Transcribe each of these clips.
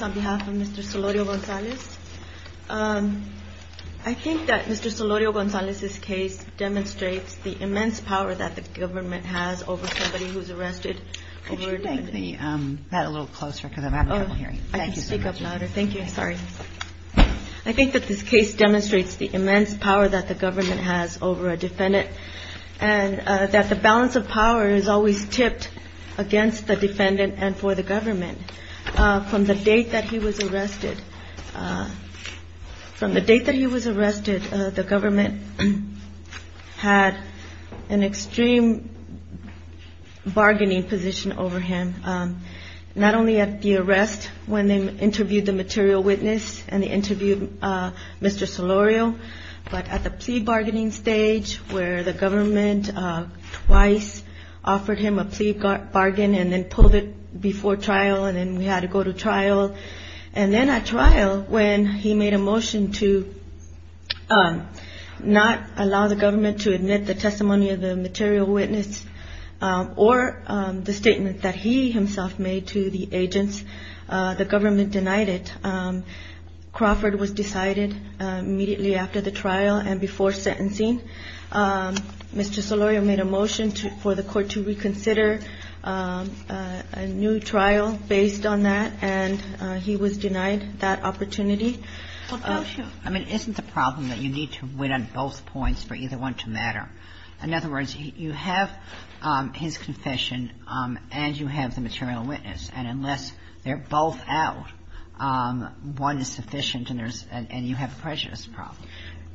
on behalf of Mr. Solorio-Gonzalez. I think that Mr. Solorio-Gonzalez's case demonstrates the immense power that the government has over somebody who's arrested over a defendant. Could you bring that a little closer because I'm having trouble hearing. Thank you so much. I can speak up louder. Thank you. Sorry. I think that this case demonstrates the immense power that the government has over a defendant and that the balance of power is always tipped against the defendant and for the government. From the date that he was arrested, the government had an extreme bargaining position over him, not only at the arrest when they interviewed the material witness and they interviewed Mr. Solorio, but at the plea bargaining stage where the government twice offered him a plea bargain and then pulled it before trial and then we had to go to trial. And then at trial, when he made a motion to not allow the government to admit the testimony of the material witness or the statement that he himself made to the government denied it, Crawford was decided immediately after the trial and before sentencing. Mr. Solorio made a motion for the Court to reconsider a new trial based on that, and he was denied that opportunity. I mean, isn't the problem that you need to win on both points for either one to matter? In other words, you have his confession and you have the material witness, and unless they're both out, one is sufficient and you have a prejudice problem.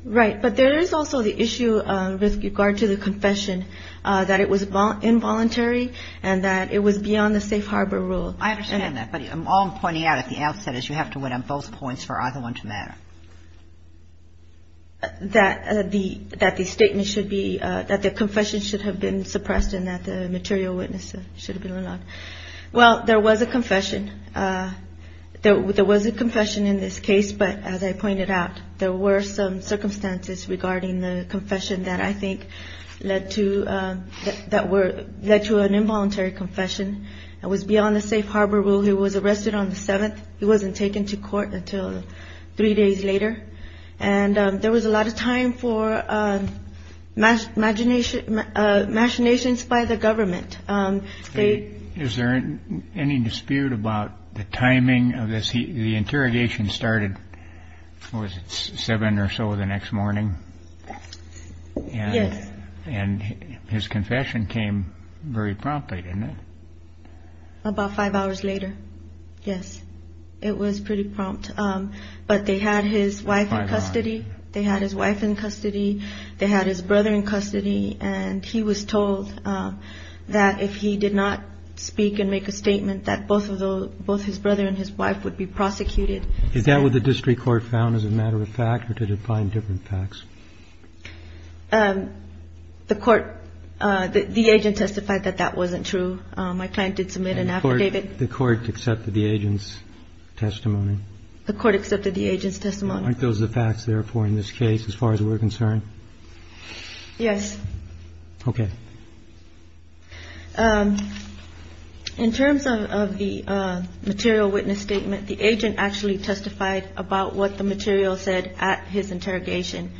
Right. But there is also the issue with regard to the confession, that it was involuntary and that it was beyond the safe harbor rule. I understand that, but all I'm pointing out at the outset is you have to win on both points for either one to matter. That the statement should be – that the confession should have been suppressed and that the material witness should have been allowed. Well, there was a confession. There was a confession in this case, but as I pointed out, there were some circumstances regarding the confession that I think led to an involuntary confession. It was beyond the safe harbor rule. He was arrested on the 7th. He wasn't taken to court until three days later. And there was a lot of time for machinations by the government. Is there any dispute about the timing of this? The interrogation started, what was it, seven or so the next morning? Yes. And his confession came very promptly, didn't it? About five hours later, yes. It was pretty prompt. But they had his wife in custody. They had his wife in custody. They had his brother in custody. And he was told that if he did not speak and make a statement, that both his brother and his wife would be prosecuted. Is that what the district court found as a matter of fact, or did it find different facts? The court – the agent testified that that wasn't true. My client did submit an affidavit. The court accepted the agent's testimony? The court accepted the agent's testimony. Aren't those the facts, therefore, in this case, as far as we're concerned? Yes. Okay. In terms of the material witness statement, the agent actually testified about what the material said at his interrogation.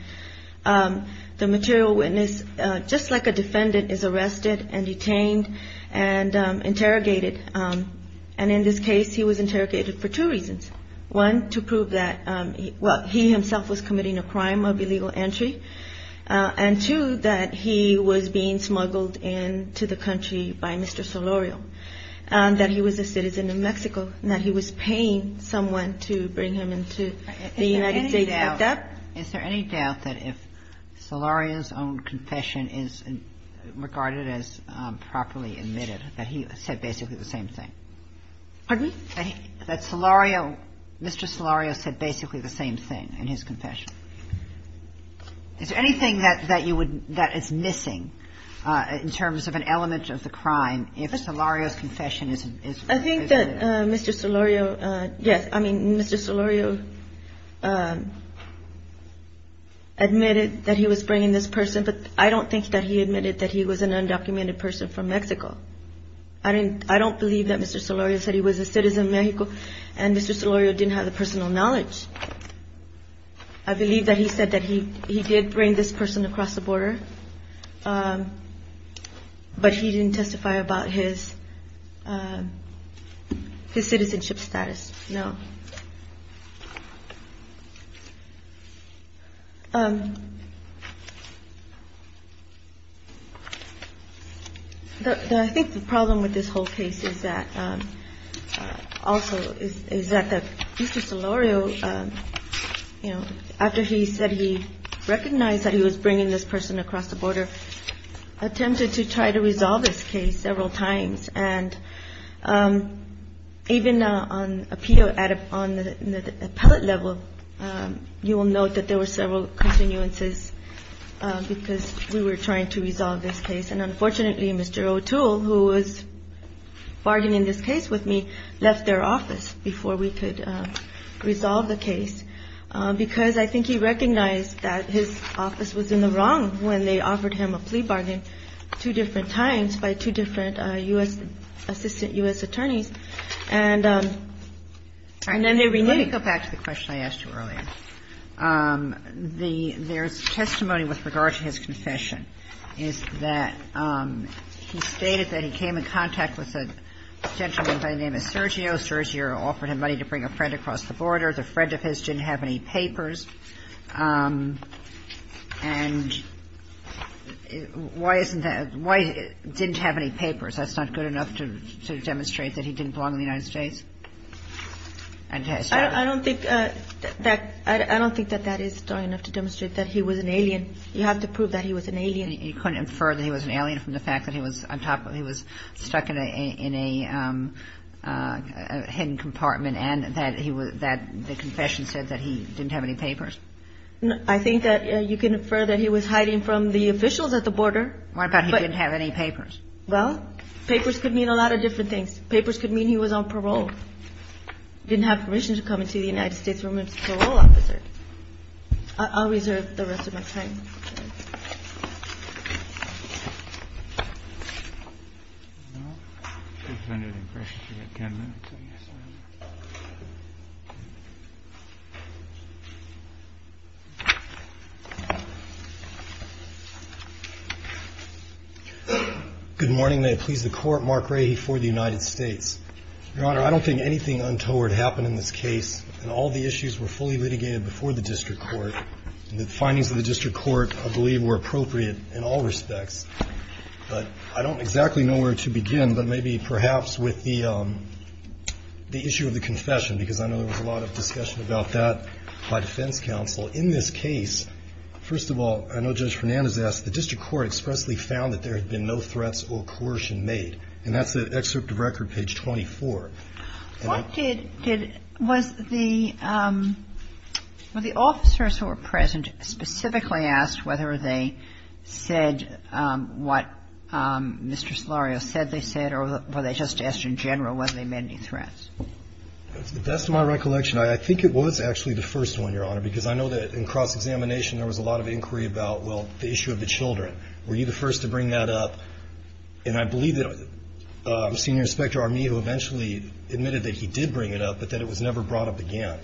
The material witness, just like a defendant, is arrested and detained and interrogated. And in this case, he was interrogated for two reasons. One, to prove that, well, he himself was committing a crime of illegal entry. And two, that he was being smuggled into the country by Mr. Solorio, that he was a citizen of Mexico, and that he was paying someone to bring him into the United States. Is there any doubt that if Solorio's own confession is regarded as properly admitted, that he said basically the same thing? Pardon? That Solorio – Mr. Solorio said basically the same thing in his confession. Is there anything that you would – that is missing in terms of an element of the crime if Solorio's confession is – I think that Mr. Solorio – yes, I mean, Mr. Solorio admitted that he was bringing this person, but I don't think that he admitted that he was an undocumented person from Mexico. I don't believe that Mr. Solorio said he was a citizen of Mexico, and Mr. Solorio didn't have the personal knowledge. I believe that he said that he did bring this person across the border, but he didn't testify about his citizenship status, no. I think the problem with this whole case is that – also, is that Mr. Solorio, you know, after he said he recognized that he was bringing this person across the border, attempted to try to resolve this case several times. And even on appeal – on the appellate level, you will note that there were several continuances because we were trying to resolve this case. And unfortunately, Mr. O'Toole, who was bargaining this case with me, left their office before we could resolve the case because I think he recognized that his office was in the wrong when they offered him a plea bargain two different times by two different U.S. – by two different assistant U.S. attorneys, and then they renewed. Kagan. Let me go back to the question I asked you earlier. The – there's testimony with regard to his confession, is that he stated that he came in contact with a gentleman by the name of Sergio. Sergio offered him money to bring a friend across the border. The friend of his didn't have any papers. And why isn't that – why didn't he have any papers? That's not good enough to demonstrate that he didn't belong in the United States? I don't think that – I don't think that that is strong enough to demonstrate that he was an alien. You have to prove that he was an alien. You couldn't infer that he was an alien from the fact that he was on top of – he was stuck in a hidden compartment and that he was – that the confession said that he didn't have any papers? I think that you can infer that he was hiding from the officials at the border. What about he didn't have any papers? Well, papers could mean a lot of different things. Papers could mean he was on parole, didn't have permission to come into the United States from a parole officer. I'll reserve the rest of my time. Good morning. May it please the Court. Mark Rahe for the United States. Your Honor, I don't think anything untoward happened in this case. All the issues were fully litigated before the district court. The findings of the district court, I believe, were appropriate in all respects. But I don't exactly know where to begin, but maybe perhaps with the issue of the confession, because I know there was a lot of discussion about that by defense counsel. In this case, first of all, I know Judge Fernandez asked, the district court expressly found that there had been no threats or coercion made. And that's the excerpt of record, page 24. What did the – was the – were the officers who were present specifically asked whether they said what Mr. Solorio said they said, or were they just asked in general whether they met any threats? To the best of my recollection, I think it was actually the first one, Your Honor, because I know that in cross-examination there was a lot of inquiry about, well, the issue of the children. Were you the first to bring that up? And I believe that Senior Inspector Armijo eventually admitted that he did bring it up, but that it was never brought up again.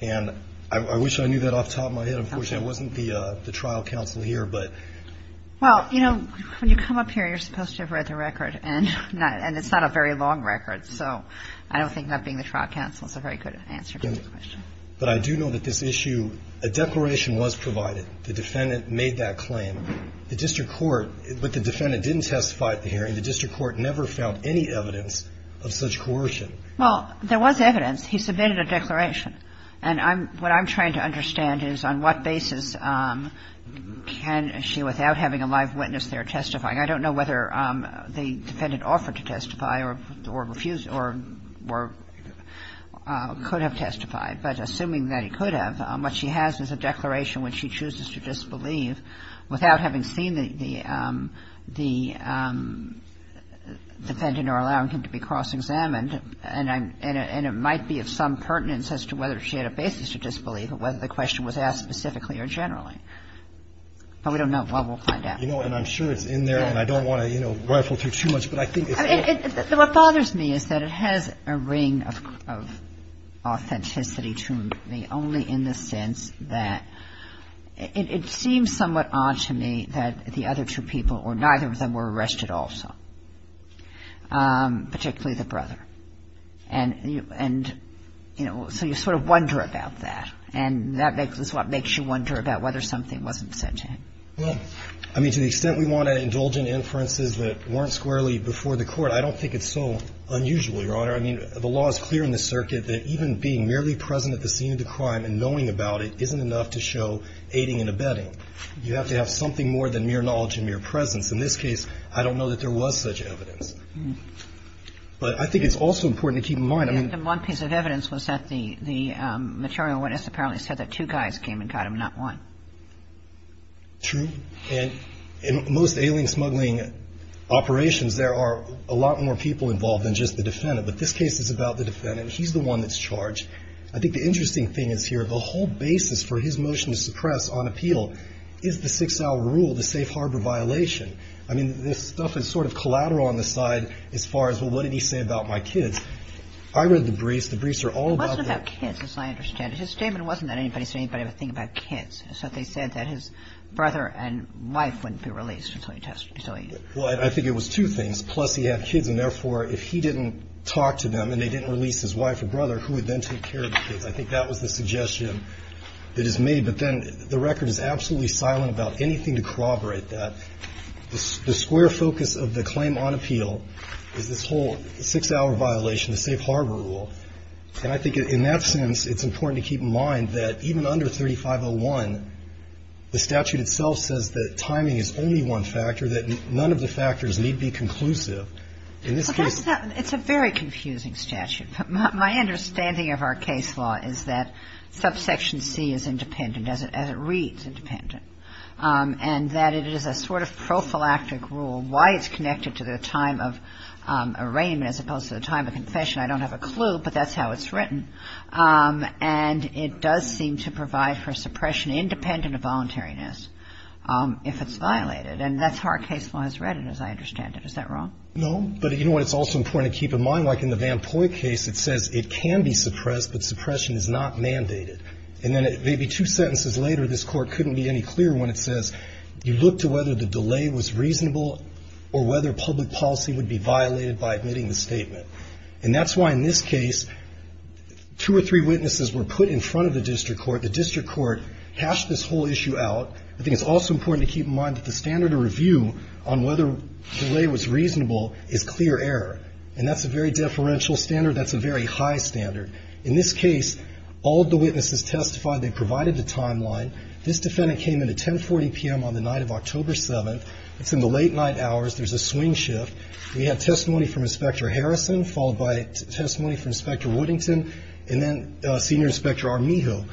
And I wish I knew that off the top of my head. Unfortunately, I wasn't the trial counsel here, but – Well, you know, when you come up here, you're supposed to have read the record, and it's not a very long record, so I don't think not being the trial counsel is a very good answer to the question. But I do know that this issue – a declaration was provided. The defendant made that claim. The district court – but the defendant didn't testify at the hearing. The district court never found any evidence of such coercion. Well, there was evidence. He submitted a declaration. And I'm – what I'm trying to understand is on what basis can she, without having a live witness there, testify? I don't know whether the defendant offered to testify or refused or could have testified. But assuming that he could have, what she has is a declaration when she chooses to disbelieve without having seen the defendant or allowing him to be cross-examined. And I'm – and it might be of some pertinence as to whether she had a basis to disbelieve or whether the question was asked specifically or generally. But we don't know. Well, we'll find out. You know, and I'm sure it's in there, and I don't want to, you know, rifle through too much, but I think it's in there. What bothers me is that it has a ring of authenticity to me only in the sense that it seems somewhat odd to me that the other two people, or neither of them, were arrested also, particularly the brother. And, you know, so you sort of wonder about that. And that is what makes you wonder about whether something wasn't sent in. Well, I mean, to the extent we want to indulge in inferences that weren't squarely before the Court, I don't think it's so unusual, Your Honor. I mean, the law is clear in the circuit that even being merely present at the scene of the crime and knowing about it isn't enough to show aiding and abetting. You have to have something more than mere knowledge and mere presence. In this case, I don't know that there was such evidence. But I think it's also important to keep in mind, I mean – The only piece of evidence was that the material witness apparently said that two guys came and got him, not one. True. And in most ailing, smuggling operations, there are a lot more people involved than just the defendant. But this case is about the defendant. He's the one that's charged. I think the interesting thing is here, the whole basis for his motion to suppress on appeal is the 6-hour rule, the safe harbor violation. I mean, this stuff is sort of collateral on the side as far as, well, what did he say about my kids? I read the briefs. The briefs are all about the – It wasn't about kids, as I understand it. His statement wasn't that anybody said anything about kids. It's that they said that his brother and wife wouldn't be released until he – Well, I think it was two things. Plus, he had kids, and therefore, if he didn't talk to them and they didn't release his wife or brother, who would then take care of the kids? I think that was the suggestion that is made. But then the record is absolutely silent about anything to corroborate that. The square focus of the claim on appeal is this whole 6-hour violation, the safe harbor rule. And I think in that sense, it's important to keep in mind that even under 3501, the statute itself says that timing is only one factor, that none of the factors need be conclusive. In this case – It's a very confusing statute. My understanding of our case law is that subsection C is independent, as it reads, independent. And that it is a sort of prophylactic rule, why it's connected to the time of arraignment as opposed to the time of confession. I don't have a clue, but that's how it's written. And it does seem to provide for suppression, independent of voluntariness, if it's violated. And that's how our case law has read it, as I understand it. Is that wrong? No. But you know what? It's also important to keep in mind, like in the Van Poy case, it says it can be suppressed, but suppression is not mandated. And then maybe two sentences later, this Court couldn't be any clearer when it says, you look to whether the delay was reasonable or whether public policy would be violated by admitting the statement. And that's why in this case, two or three witnesses were put in front of the district court. The district court hashed this whole issue out. I think it's also important to keep in mind that the standard of review on whether delay was reasonable is clear error. And that's a very deferential standard. That's a very high standard. In this case, all of the witnesses testified. They provided the timeline. This defendant came in at 10.40 p.m. on the night of October 7th. It's in the late night hours. There's a swing shift. We had testimony from Inspector Harrison, followed by testimony from Inspector Woodington, and then Senior Inspector Armijo.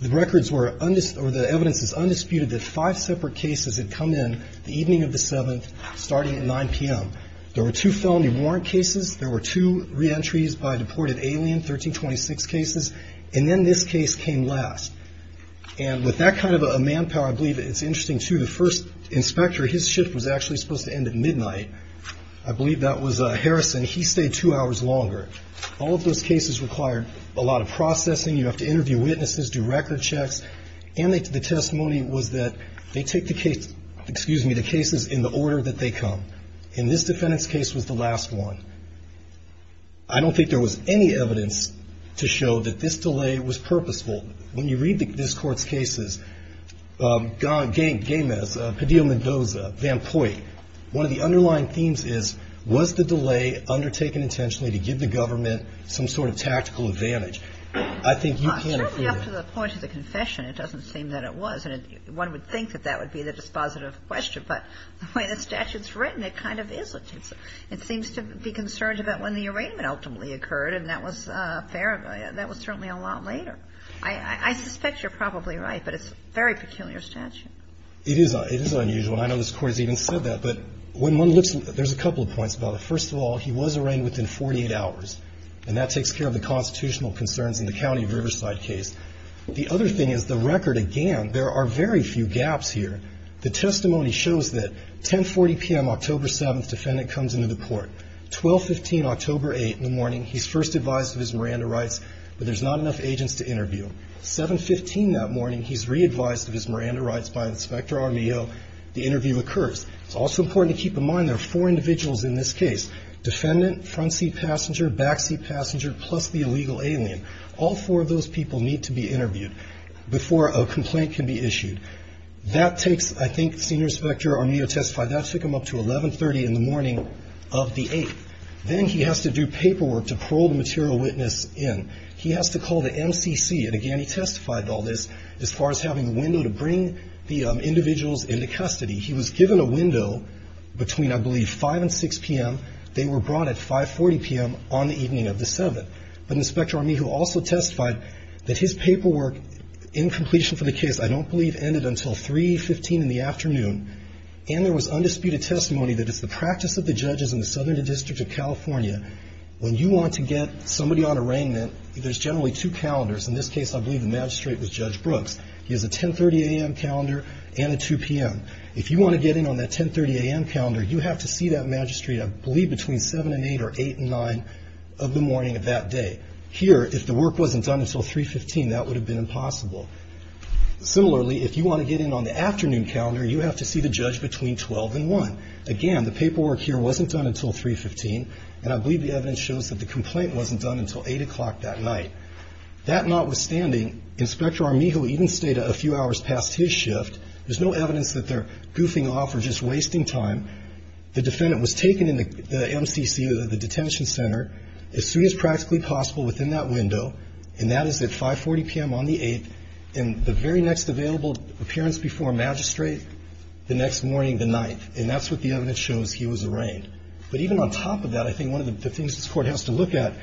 The records were, or the evidence is undisputed that five separate cases had come in the evening of the 7th, starting at 9 p.m. There were two felony warrant cases. There were two reentries by deported alien, 1326 cases. And then this case came last. And with that kind of a manpower, I believe it's interesting, too, the first inspector, his shift was actually supposed to end at midnight. I believe that was Harrison. He stayed two hours longer. All of those cases required a lot of processing. You have to interview witnesses, do record checks. And the testimony was that they take the cases in the order that they come. In this defendant's case was the last one. I don't think there was any evidence to show that this delay was purposeful. When you read this Court's cases, Gaines, Padilla-Mendoza, Van Poyt, one of the underlying themes is was the delay undertaken intentionally to give the government some sort of tactical advantage. I think you can't agree with that. It seems to me that this is a point of the confession. It doesn't seem that it was. And one would think that that would be the dispositive question. But the way the statute's written, it kind of is. It seems to be concerned about when the arraignment ultimately occurred, and that was certainly a lot later. I suspect you're probably right, but it's a very peculiar statute. It is. It is unusual. I know this Court has even said that. But when one looks at it, there's a couple of points about it. First of all, he was arraigned within 48 hours, and that takes care of the constitutional concerns in the County of Riverside case. The other thing is the record, again, there are very few gaps here. The testimony shows that 10.40 p.m., October 7th, defendant comes into the court. 12.15, October 8th, in the morning, he's first advised of his Miranda rights, but there's not enough agents to interview. 7.15 that morning, he's re-advised of his Miranda rights by Inspector Armijo. The interview occurs. It's also important to keep in mind there are four individuals in this case, defendant, front seat passenger, back seat passenger, plus the illegal alien. All four of those people need to be interviewed before a complaint can be issued. That takes, I think, Senior Inspector Armijo testified, that took him up to 11.30 in the morning of the 8th. Then he has to do paperwork to parole the material witness in. He has to call the MCC, and again, he testified to all this as far as having a window to bring the individuals into custody. He was given a window between, I believe, 5 and 6 p.m. They were brought at 5.40 p.m. on the evening of the 7th. But Inspector Armijo also testified that his paperwork, in completion for the case, I don't believe ended until 3.15 in the afternoon, and there was undisputed testimony that it's the practice of the judges in the Southern District of California, when you want to get somebody on arraignment, there's generally two calendars. In this case, I believe the magistrate was Judge Brooks. He has a 10.30 a.m. calendar and a 2 p.m. If you want to get in on that 10.30 a.m. calendar, you have to see that magistrate, I believe, between 7 and 8 or 8 and 9 of the morning of that day. Here, if the work wasn't done until 3.15, that would have been impossible. Similarly, if you want to get in on the afternoon calendar, you have to see the judge between 12 and 1. Again, the paperwork here wasn't done until 3.15, and I believe the evidence shows that the complaint wasn't done until 8 o'clock that night. That notwithstanding, Inspector Armijo even stayed a few hours past his shift. There's no evidence that they're goofing off or just wasting time. The defendant was taken in the MCC, the detention center, as soon as practically possible within that window, and that is at 5.40 p.m. on the 8th, and the very next available appearance before magistrate, the next morning, the 9th. And that's what the evidence shows he was arraigned. But even on top of that, I think one of the things this Court has to look at,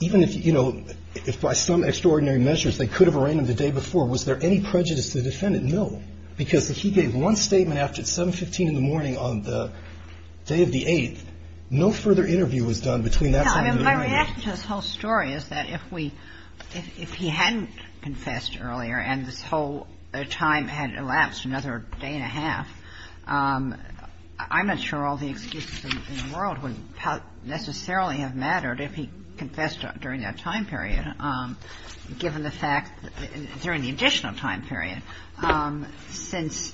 even if, you know, if by some extraordinary measures they could have arraigned him the day before, was there any prejudice to the defendant? No. Because if he gave one statement after 7.15 in the morning on the day of the 8th, no further interview was done between that time and the arraignment. Kagan. My reaction to this whole story is that if we – if he hadn't confessed earlier and this whole time had elapsed another day and a half, I'm not sure all the excuses in the world would necessarily have mattered if he confessed during that time period, given the fact, during the additional time period, since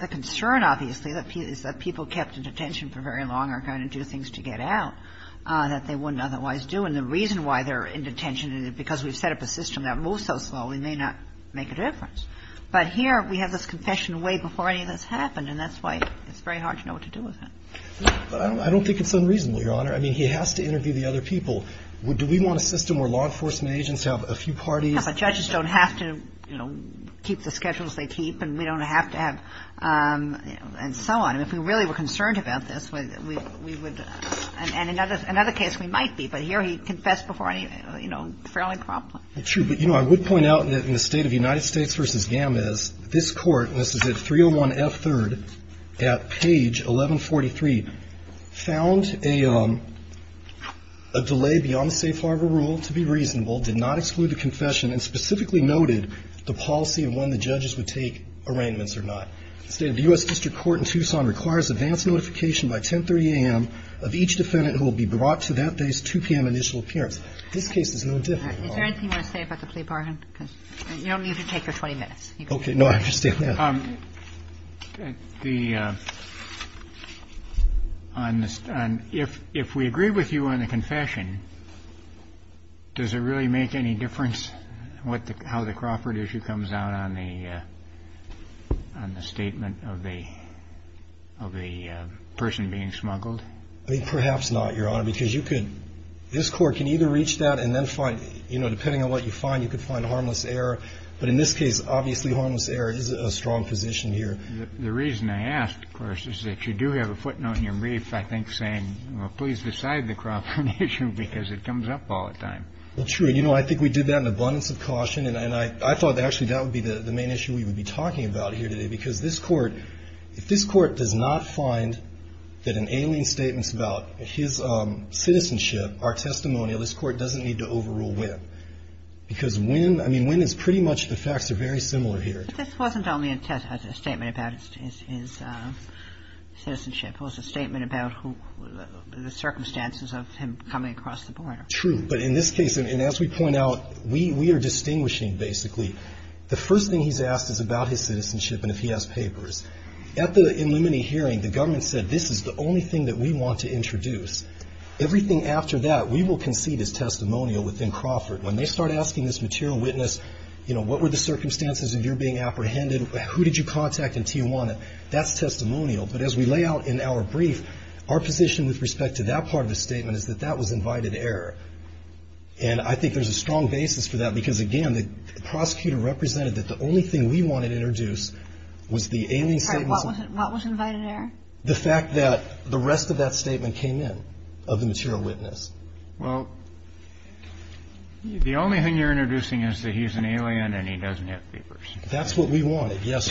the concern, obviously, is that people kept in detention for very long are going to do things to get out that they wouldn't otherwise do. And the reason why they're in detention is because we've set up a system that moves so slowly, it may not make a difference. But here, we have this confession way before any of this happened, and that's why it's very hard to know what to do with him. I don't think it's unreasonable, Your Honor. I mean, he has to interview the other people. Do we want a system where law enforcement agents have a few parties? But judges don't have to, you know, keep the schedules they keep, and we don't have to have – and so on. If we really were concerned about this, we would – and another case we might be, but here he confessed before, you know, fairly promptly. True. But, you know, I would point out that in the State of the United States v. Gammis, this Court, and this is at 301F3rd at page 1143, found a delay beyond the safe harbor rule to be reasonable, did not exclude the confession, and specifically noted the policy of when the judges would take arraignments or not. The State of the U.S. District Court in Tucson requires advance notification by 1030 a.m. of each defendant who will be brought to that day's 2 p.m. initial appearance. This case is no different, Your Honor. Is there anything you want to say about the plea bargain? Because you don't need to take your 20 minutes. Okay. No, I understand that. The – if we agree with you on the confession, does it really make any difference how the Crawford issue comes out on the statement of the person being smuggled? I mean, perhaps not, Your Honor, because you could – this Court can either reach that and then find – you know, depending on what you find, you could find harmless error. But in this case, obviously, harmless error is a strong position here. The reason I ask, of course, is that you do have a footnote in your brief, I think, saying, well, please decide the Crawford issue because it comes up all the time. Well, true. You know, I think we did that in abundance of caution, and I thought that actually that would be the main issue we would be talking about here today, because this Court – if this Court does not find that in ailing statements about his citizenship are testimonial, this Court doesn't need to overrule Winn. Because Winn – I mean, Winn is pretty much – the facts are very similar here. But this wasn't only a statement about his citizenship. It was a statement about who – the circumstances of him coming across the border. True. But in this case – and as we point out, we are distinguishing, basically. The first thing he's asked is about his citizenship and if he has papers. At the Illuminati hearing, the government said this is the only thing that we want to introduce. Everything after that, we will concede as testimonial within Crawford. When they start asking this material witness, you know, what were the circumstances of your being apprehended, who did you contact in Tijuana, that's testimonial. But as we lay out in our brief, our position with respect to that part of the statement is that that was invited error. And I think there's a strong basis for that because, again, the prosecutor represented that the only thing we wanted to introduce was the ailing statements – I'm sorry. What was invited error? The fact that the rest of that statement came in of the material witness. Well, the only thing you're introducing is that he's an alien and he doesn't have papers. That's what we wanted. Yes.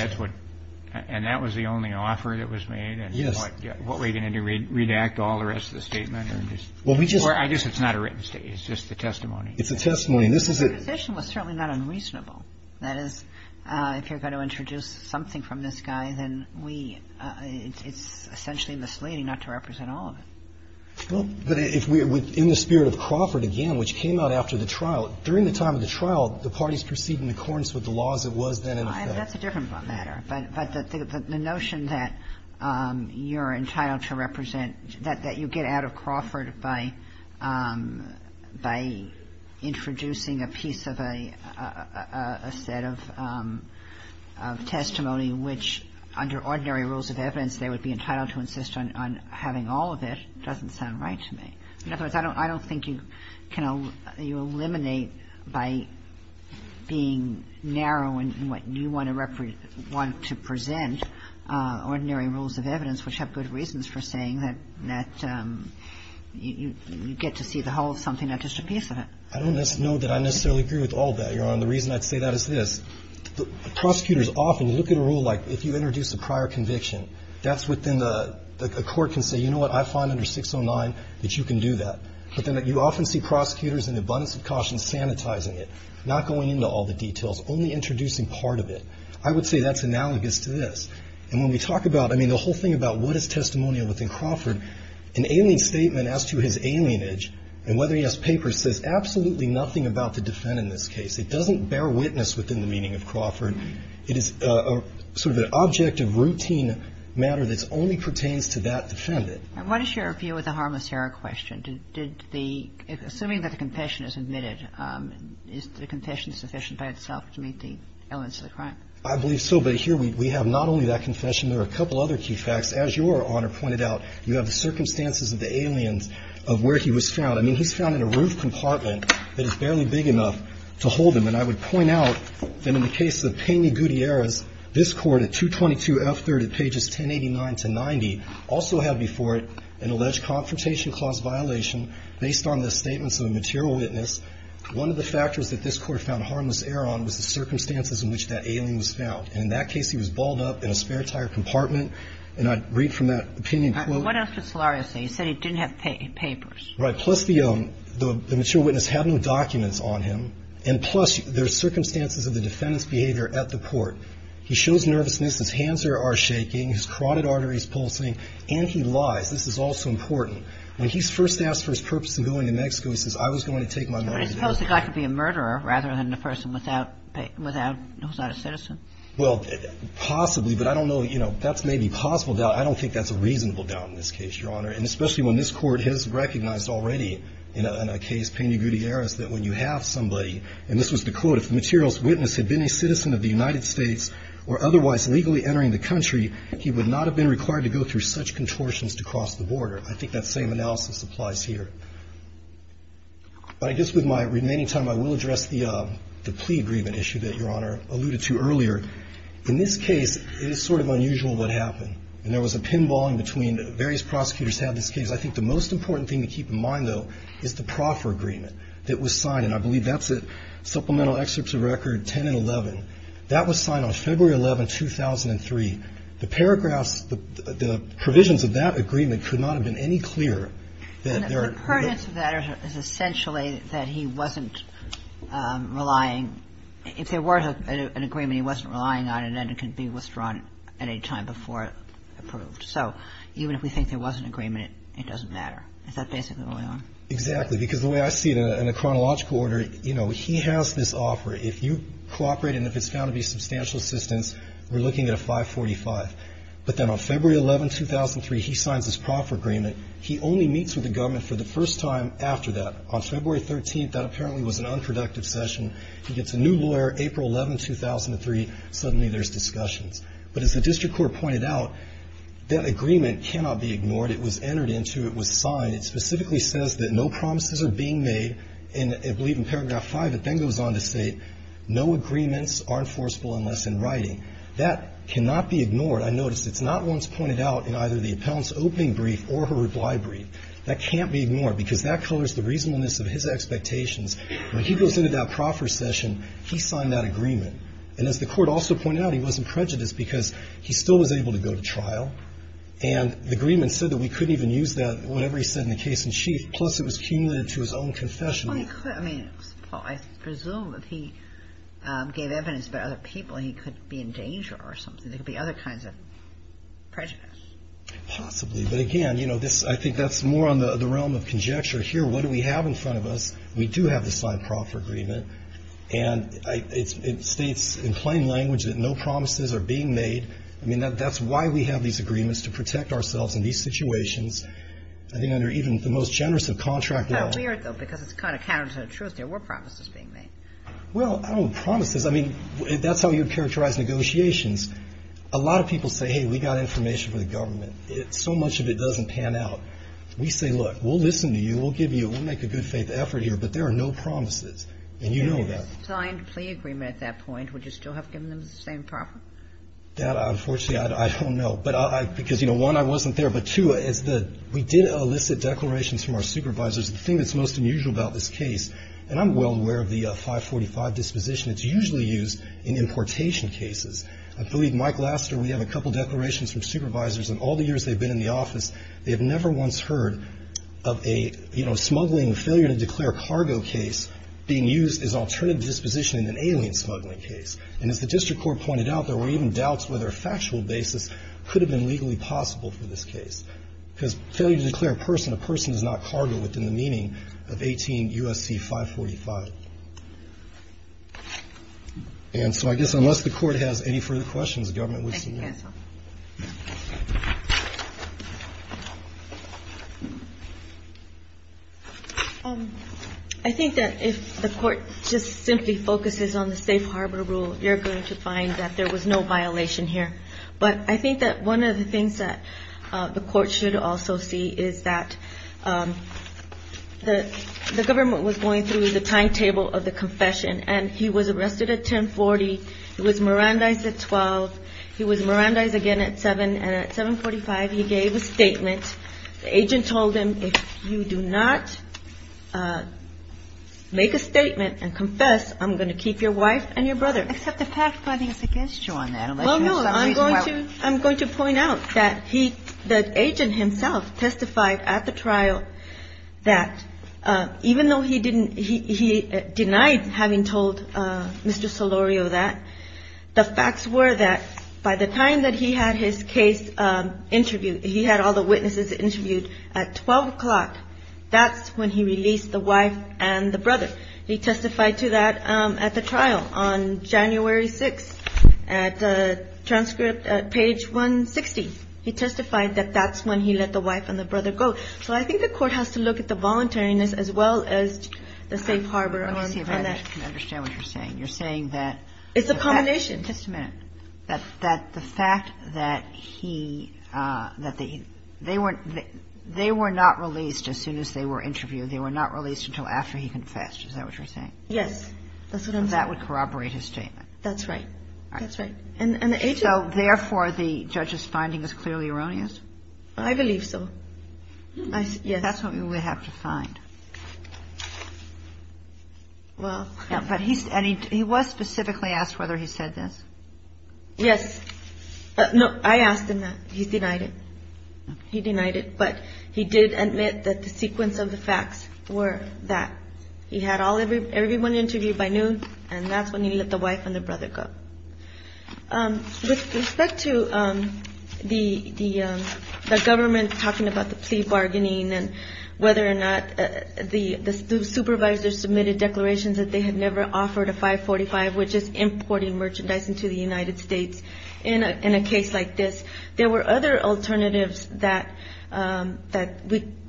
And that was the only offer that was made? Yes. And what were you going to do, redact all the rest of the statement? Well, we just – Or I guess it's not a written statement. It's just the testimony. It's a testimony. This is a – Well, our position was certainly not unreasonable. That is, if you're going to introduce something from this guy, then we – it's essentially misleading not to represent all of it. Well, but if we – in the spirit of Crawford, again, which came out after the trial, during the time of the trial, the parties proceed in accordance with the laws that was then in effect. That's a different matter. But the notion that you're entitled to represent – that you get out of Crawford by introducing a piece of a set of testimony which, under ordinary rules of evidence, they would be entitled to insist on having all of it doesn't sound right to me. In other words, I don't think you can – you eliminate by being narrow in what you want to represent – want to present ordinary rules of evidence, which have good reasons for saying that you get to see the whole of something, not just a piece of it. I don't know that I necessarily agree with all of that, Your Honor. The reason I'd say that is this. Prosecutors often look at a rule like if you introduce a prior conviction, that's what then the court can say, you know what, I find under 609 that you can do that. But then you often see prosecutors in abundance of caution sanitizing it, not going into all the details, only introducing part of it. I would say that's analogous to this. And when we talk about – I mean, the whole thing about what is testimonial within Crawford, an alien statement as to his alienage and whether he has papers says absolutely nothing about the defendant in this case. It doesn't bear witness within the meaning of Crawford. It is sort of an object of routine matter that only pertains to that defendant. I want to share a view with a harmless error question. Did the – assuming that the confession is admitted, is the confession sufficient by itself to meet the elements of the crime? I believe so. But here we have not only that confession. There are a couple other key facts. As Your Honor pointed out, you have the circumstances of the aliens of where he was found. I mean, he's found in a roof compartment that is barely big enough to hold him. And I would point out that in the case of Payne Gutierrez, this Court at 222 F. 3rd at pages 1089 to 90 also had before it an alleged confrontation clause violation based on the statements of a material witness. One of the factors that this Court found harmless error on was the circumstances in which that alien was found. And in that case, he was balled up in a spare tire compartment. And I'd read from that opinion quote. What else did Solario say? He said he didn't have papers. Right. Plus, the material witness had no documents on him. And plus, there's circumstances of the defendant's behavior at the court. He shows nervousness. His hands are shaking. His carotid artery is pulsing. And he lies. This is also important. When he's first asked for his purpose in going to Mexico, he says, I was going to take my money there. But I suppose the guy could be a murderer rather than a person without a citizen. Well, possibly. But I don't know. You know, that's maybe a possible doubt. I don't think that's a reasonable doubt in this case, Your Honor. And especially when this Court has recognized already in a case, Payne Gutierrez, that when you have somebody, and this was the quote, if the material witness had been a citizen of the United States or otherwise legally entering the country, he would not have been required to go through such contortions to cross the border. I think that same analysis applies here. But I guess with my remaining time, I will address the plea agreement issue that Your Honor alluded to earlier. In this case, it is sort of unusual what happened. And there was a pinballing between various prosecutors who had this case. I think the most important thing to keep in mind, though, is the proffer agreement that was signed. And I believe that's a supplemental excerpt to record 10 and 11. That was signed on February 11, 2003. The paragraphs, the provisions of that agreement could not have been any clearer. That there are no ---- And the pertinence of that is essentially that he wasn't relying, if there were an agreement he wasn't relying on, and then it could be withdrawn at any time before it approved. So even if we think there was an agreement, it doesn't matter. Is that basically what went on? Exactly. Because the way I see it, in a chronological order, you know, he has this offer. If you cooperate and if it's found to be substantial assistance, we're looking at a 545. But then on February 11, 2003, he signs this proffer agreement. He only meets with the government for the first time after that. On February 13th, that apparently was an unproductive session. He gets a new lawyer, April 11, 2003, suddenly there's discussions. But as the district court pointed out, that agreement cannot be ignored. It was entered into. It was signed. It specifically says that no promises are being made. And I believe in paragraph 5, it then goes on to state no agreements are enforceable unless in writing. That cannot be ignored. I notice it's not once pointed out in either the appellant's opening brief or her reply brief. That can't be ignored because that colors the reasonableness of his expectations. When he goes into that proffer session, he signed that agreement. And as the Court also pointed out, he wasn't prejudiced because he still was able to go to trial. And the agreement said that we couldn't even use that, whatever he said in the case in chief. Plus, it was cumulated to his own confession. I mean, I presume if he gave evidence about other people, he could be in danger or something. There could be other kinds of prejudice. Possibly. But again, you know, I think that's more on the realm of conjecture. Here, what do we have in front of us? We do have the signed proffer agreement. And it states in plain language that no promises are being made. I mean, that's why we have these agreements, to protect ourselves in these situations. I think under even the most generous of contract laws. It's kind of weird, though, because it's kind of counter to the truth. There were promises being made. Well, I don't know. Promises. I mean, that's how you characterize negotiations. A lot of people say, hey, we've got information for the government. So much of it doesn't pan out. We say, look, we'll listen to you. We'll give you. We'll make a good faith effort here. But there are no promises. And you know that. He signed a plea agreement at that point. Would you still have given them the same proffer? That, unfortunately, I don't know. Because, you know, one, I wasn't there. But, two, we did elicit declarations from our supervisors. The thing that's most unusual about this case, and I'm well aware of the 545 disposition, it's usually used in importation cases. I believe Mike Laster, we have a couple declarations from supervisors. In all the years they've been in the office, they have never once heard of a, you know, smuggling failure to declare cargo case being used as an alternative disposition in an alien smuggling case. And as the district court pointed out, there were even doubts whether a factual basis could have been legally possible for this case. Because failure to declare a person a person is not cargo within the meaning of 18 U.S.C. 545. And so I guess unless the court has any further questions, the government would submit. Yes, ma'am. I think that if the court just simply focuses on the safe harbor rule, you're going to find that there was no violation here. But I think that one of the things that the court should also see is that the government was going through the timetable of the confession. And he was arrested at 1040. He was Mirandized at 12. He was Mirandized again at 7. And at 745, he gave a statement. The agent told him, if you do not make a statement and confess, I'm going to keep your wife and your brother. Except the fact finding is against you on that. Well, no. I'm going to point out that he, the agent himself, testified at the trial that even though he didn't he denied having told Mr. Solorio that. The facts were that by the time that he had his case interviewed, he had all the witnesses interviewed at 12 o'clock, that's when he released the wife and the brother. He testified to that at the trial on January 6th at page 160. He testified that that's when he let the wife and the brother go. So I think the Court has to look at the voluntariness as well as the safe harbor on that. Let me see if I can understand what you're saying. You're saying that. It's a combination. Just a minute. That the fact that he, that they weren't, they were not released as soon as they were interviewed. They were not released until after he confessed. Is that what you're saying? Yes. That would corroborate his statement. That's right. That's right. And the agent. So therefore, the judge's finding is clearly erroneous? I believe so. Yes. That's what we would have to find. Well. And he was specifically asked whether he said this? Yes. No, I asked him that. He denied it. He denied it. But he did admit that the sequence of the facts were that he had everyone interviewed by noon, and that's when he let the wife and the brother go. With respect to the government talking about the plea bargaining and whether or not the supervisor submitted declarations that they had never offered a 545, which is importing merchandise into the United States in a case like this, there were other alternatives that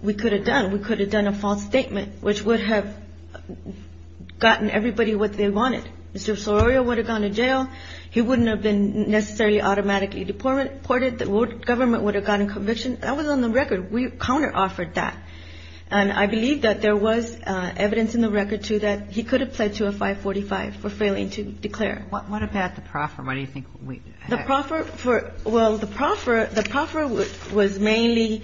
we could have done. We could have done a false statement, which would have gotten everybody what they wanted. Mr. Sororio would have gone to jail. He wouldn't have been necessarily automatically deported. The government would have gotten conviction. That was on the record. We counter-offered that. And I believe that there was evidence in the record, too, that he could have pledged to a 545 for failing to declare. What about the proffer? Why do you think we had? Well, the proffer was mainly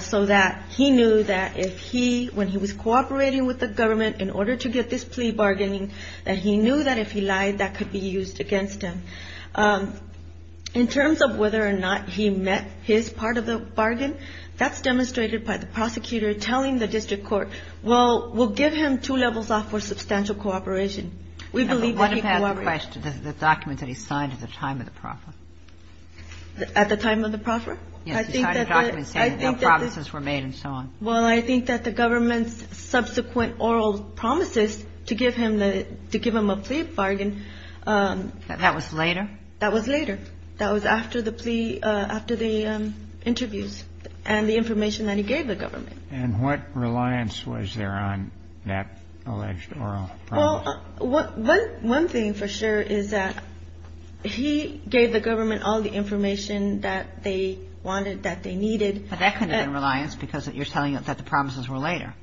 so that he knew that if he, when he was cooperating with the government in order to get this plea bargaining, that he knew that if he lied, that could be used against him. In terms of whether or not he met his part of the bargain, that's demonstrated by the prosecutor telling the district court, well, we'll give him two levels off for substantial cooperation. We believe that he cooperated. But what about the question, the document that he signed at the time of the proffer? At the time of the proffer? Yes, he signed a document saying that no promises were made and so on. Well, I think that the government's subsequent oral promises to give him the, to give him a plea bargain. That was later? That was later. That was after the plea, after the interviews and the information that he gave the government. And what reliance was there on that alleged oral promise? Well, one thing for sure is that he gave the government all the information that they wanted, that they needed. But that couldn't have been reliance because you're telling us that the promises were later.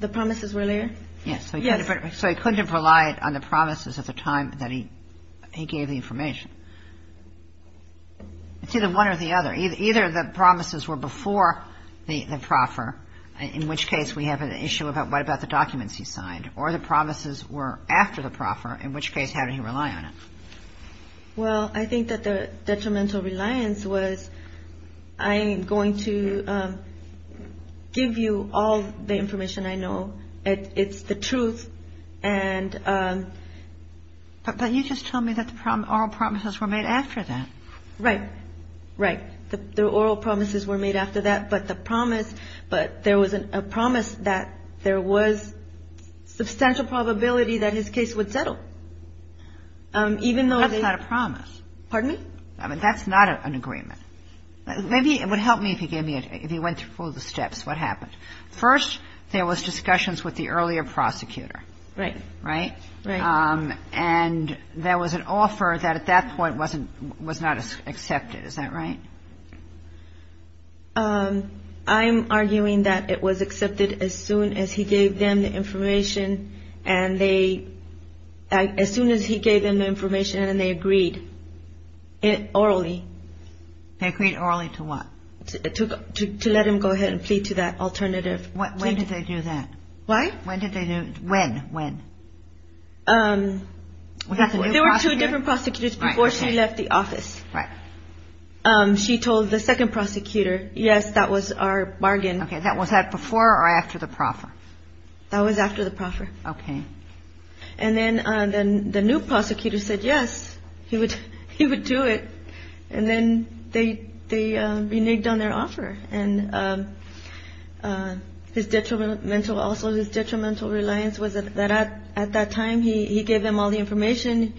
The promises were later? Yes. Yes. So he couldn't have relied on the promises at the time that he gave the information. It's either one or the other. Either the promises were before the proffer, in which case we have an issue about what about the documents he signed, or the promises were after the proffer, in which case how did he rely on it? Well, I think that the detrimental reliance was I'm going to give you all the information I know. It's the truth. But you just told me that the oral promises were made after that. Right. Right. The oral promises were made after that. But the promise, but there was a promise that there was substantial probability that his case would settle. That's not a promise. Pardon me? I mean, that's not an agreement. Maybe it would help me if you gave me, if you went through all the steps, what happened. First, there was discussions with the earlier prosecutor. Right. Right? Right. And there was an offer that at that point was not accepted. Is that right? I'm arguing that it was accepted as soon as he gave them the information and they, as soon as he gave them the information and they agreed, orally. They agreed orally to what? To let him go ahead and plead to that alternative. When did they do that? What? When did they do, when, when? There were two different prosecutors before she left the office. Right. She told the second prosecutor, yes, that was our bargain. Okay. Was that before or after the proffer? That was after the proffer. Okay. And then the new prosecutor said yes, he would do it. And then they reneged on their offer. And his detrimental, also his detrimental reliance was that at that time he gave them all the information.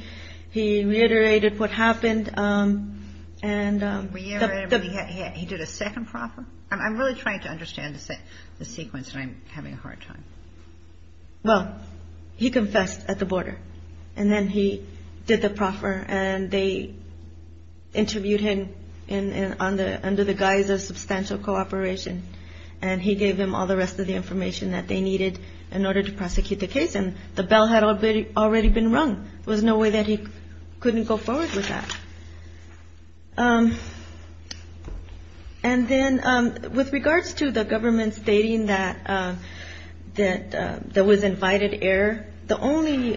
He reiterated what happened. He did a second proffer? I'm really trying to understand the sequence and I'm having a hard time. Well, he confessed at the border. And then he did the proffer and they interviewed him under the guise of substantial cooperation. And he gave them all the rest of the information that they needed in order to prosecute the case. And the bell had already been rung. There was no way that he couldn't go forward with that. And then with regards to the government stating that there was invited error, the only,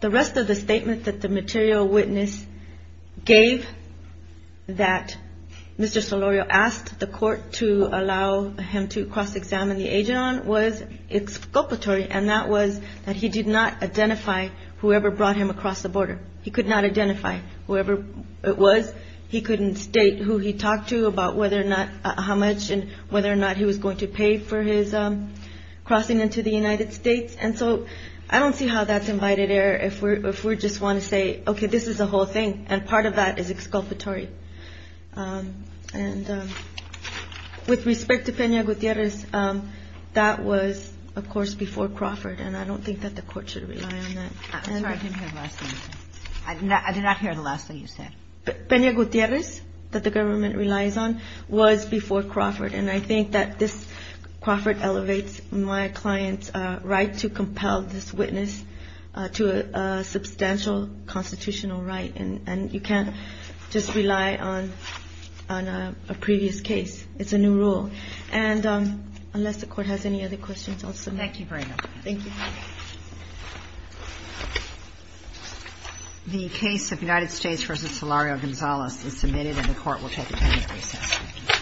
the rest of the statement that the material witness gave that Mr. Solorio asked the court to allow him to cross-examine the agent was exculpatory and that was that he did not identify whoever brought him across the border. He could not identify whoever it was. He couldn't state who he talked to about whether or not how much and whether or not he was going to pay for his crossing into the United States. And so I don't see how that's invited error if we're if we're just want to say, OK, this is a whole thing. And part of that is exculpatory. And with respect to Pena Gutierrez, that was, of course, before Crawford. And I don't think that the court should rely on that. I did not hear the last thing you said. Pena Gutierrez that the government relies on was before Crawford. And I think that this Crawford elevates my client's right to compel this witness to a substantial constitutional right. And you can't just rely on a previous case. It's a new rule. And unless the court has any other questions, I'll submit. Thank you very much. Thank you. The case of United States versus Solorio-Gonzalez is submitted and the court will take a penalty assessment.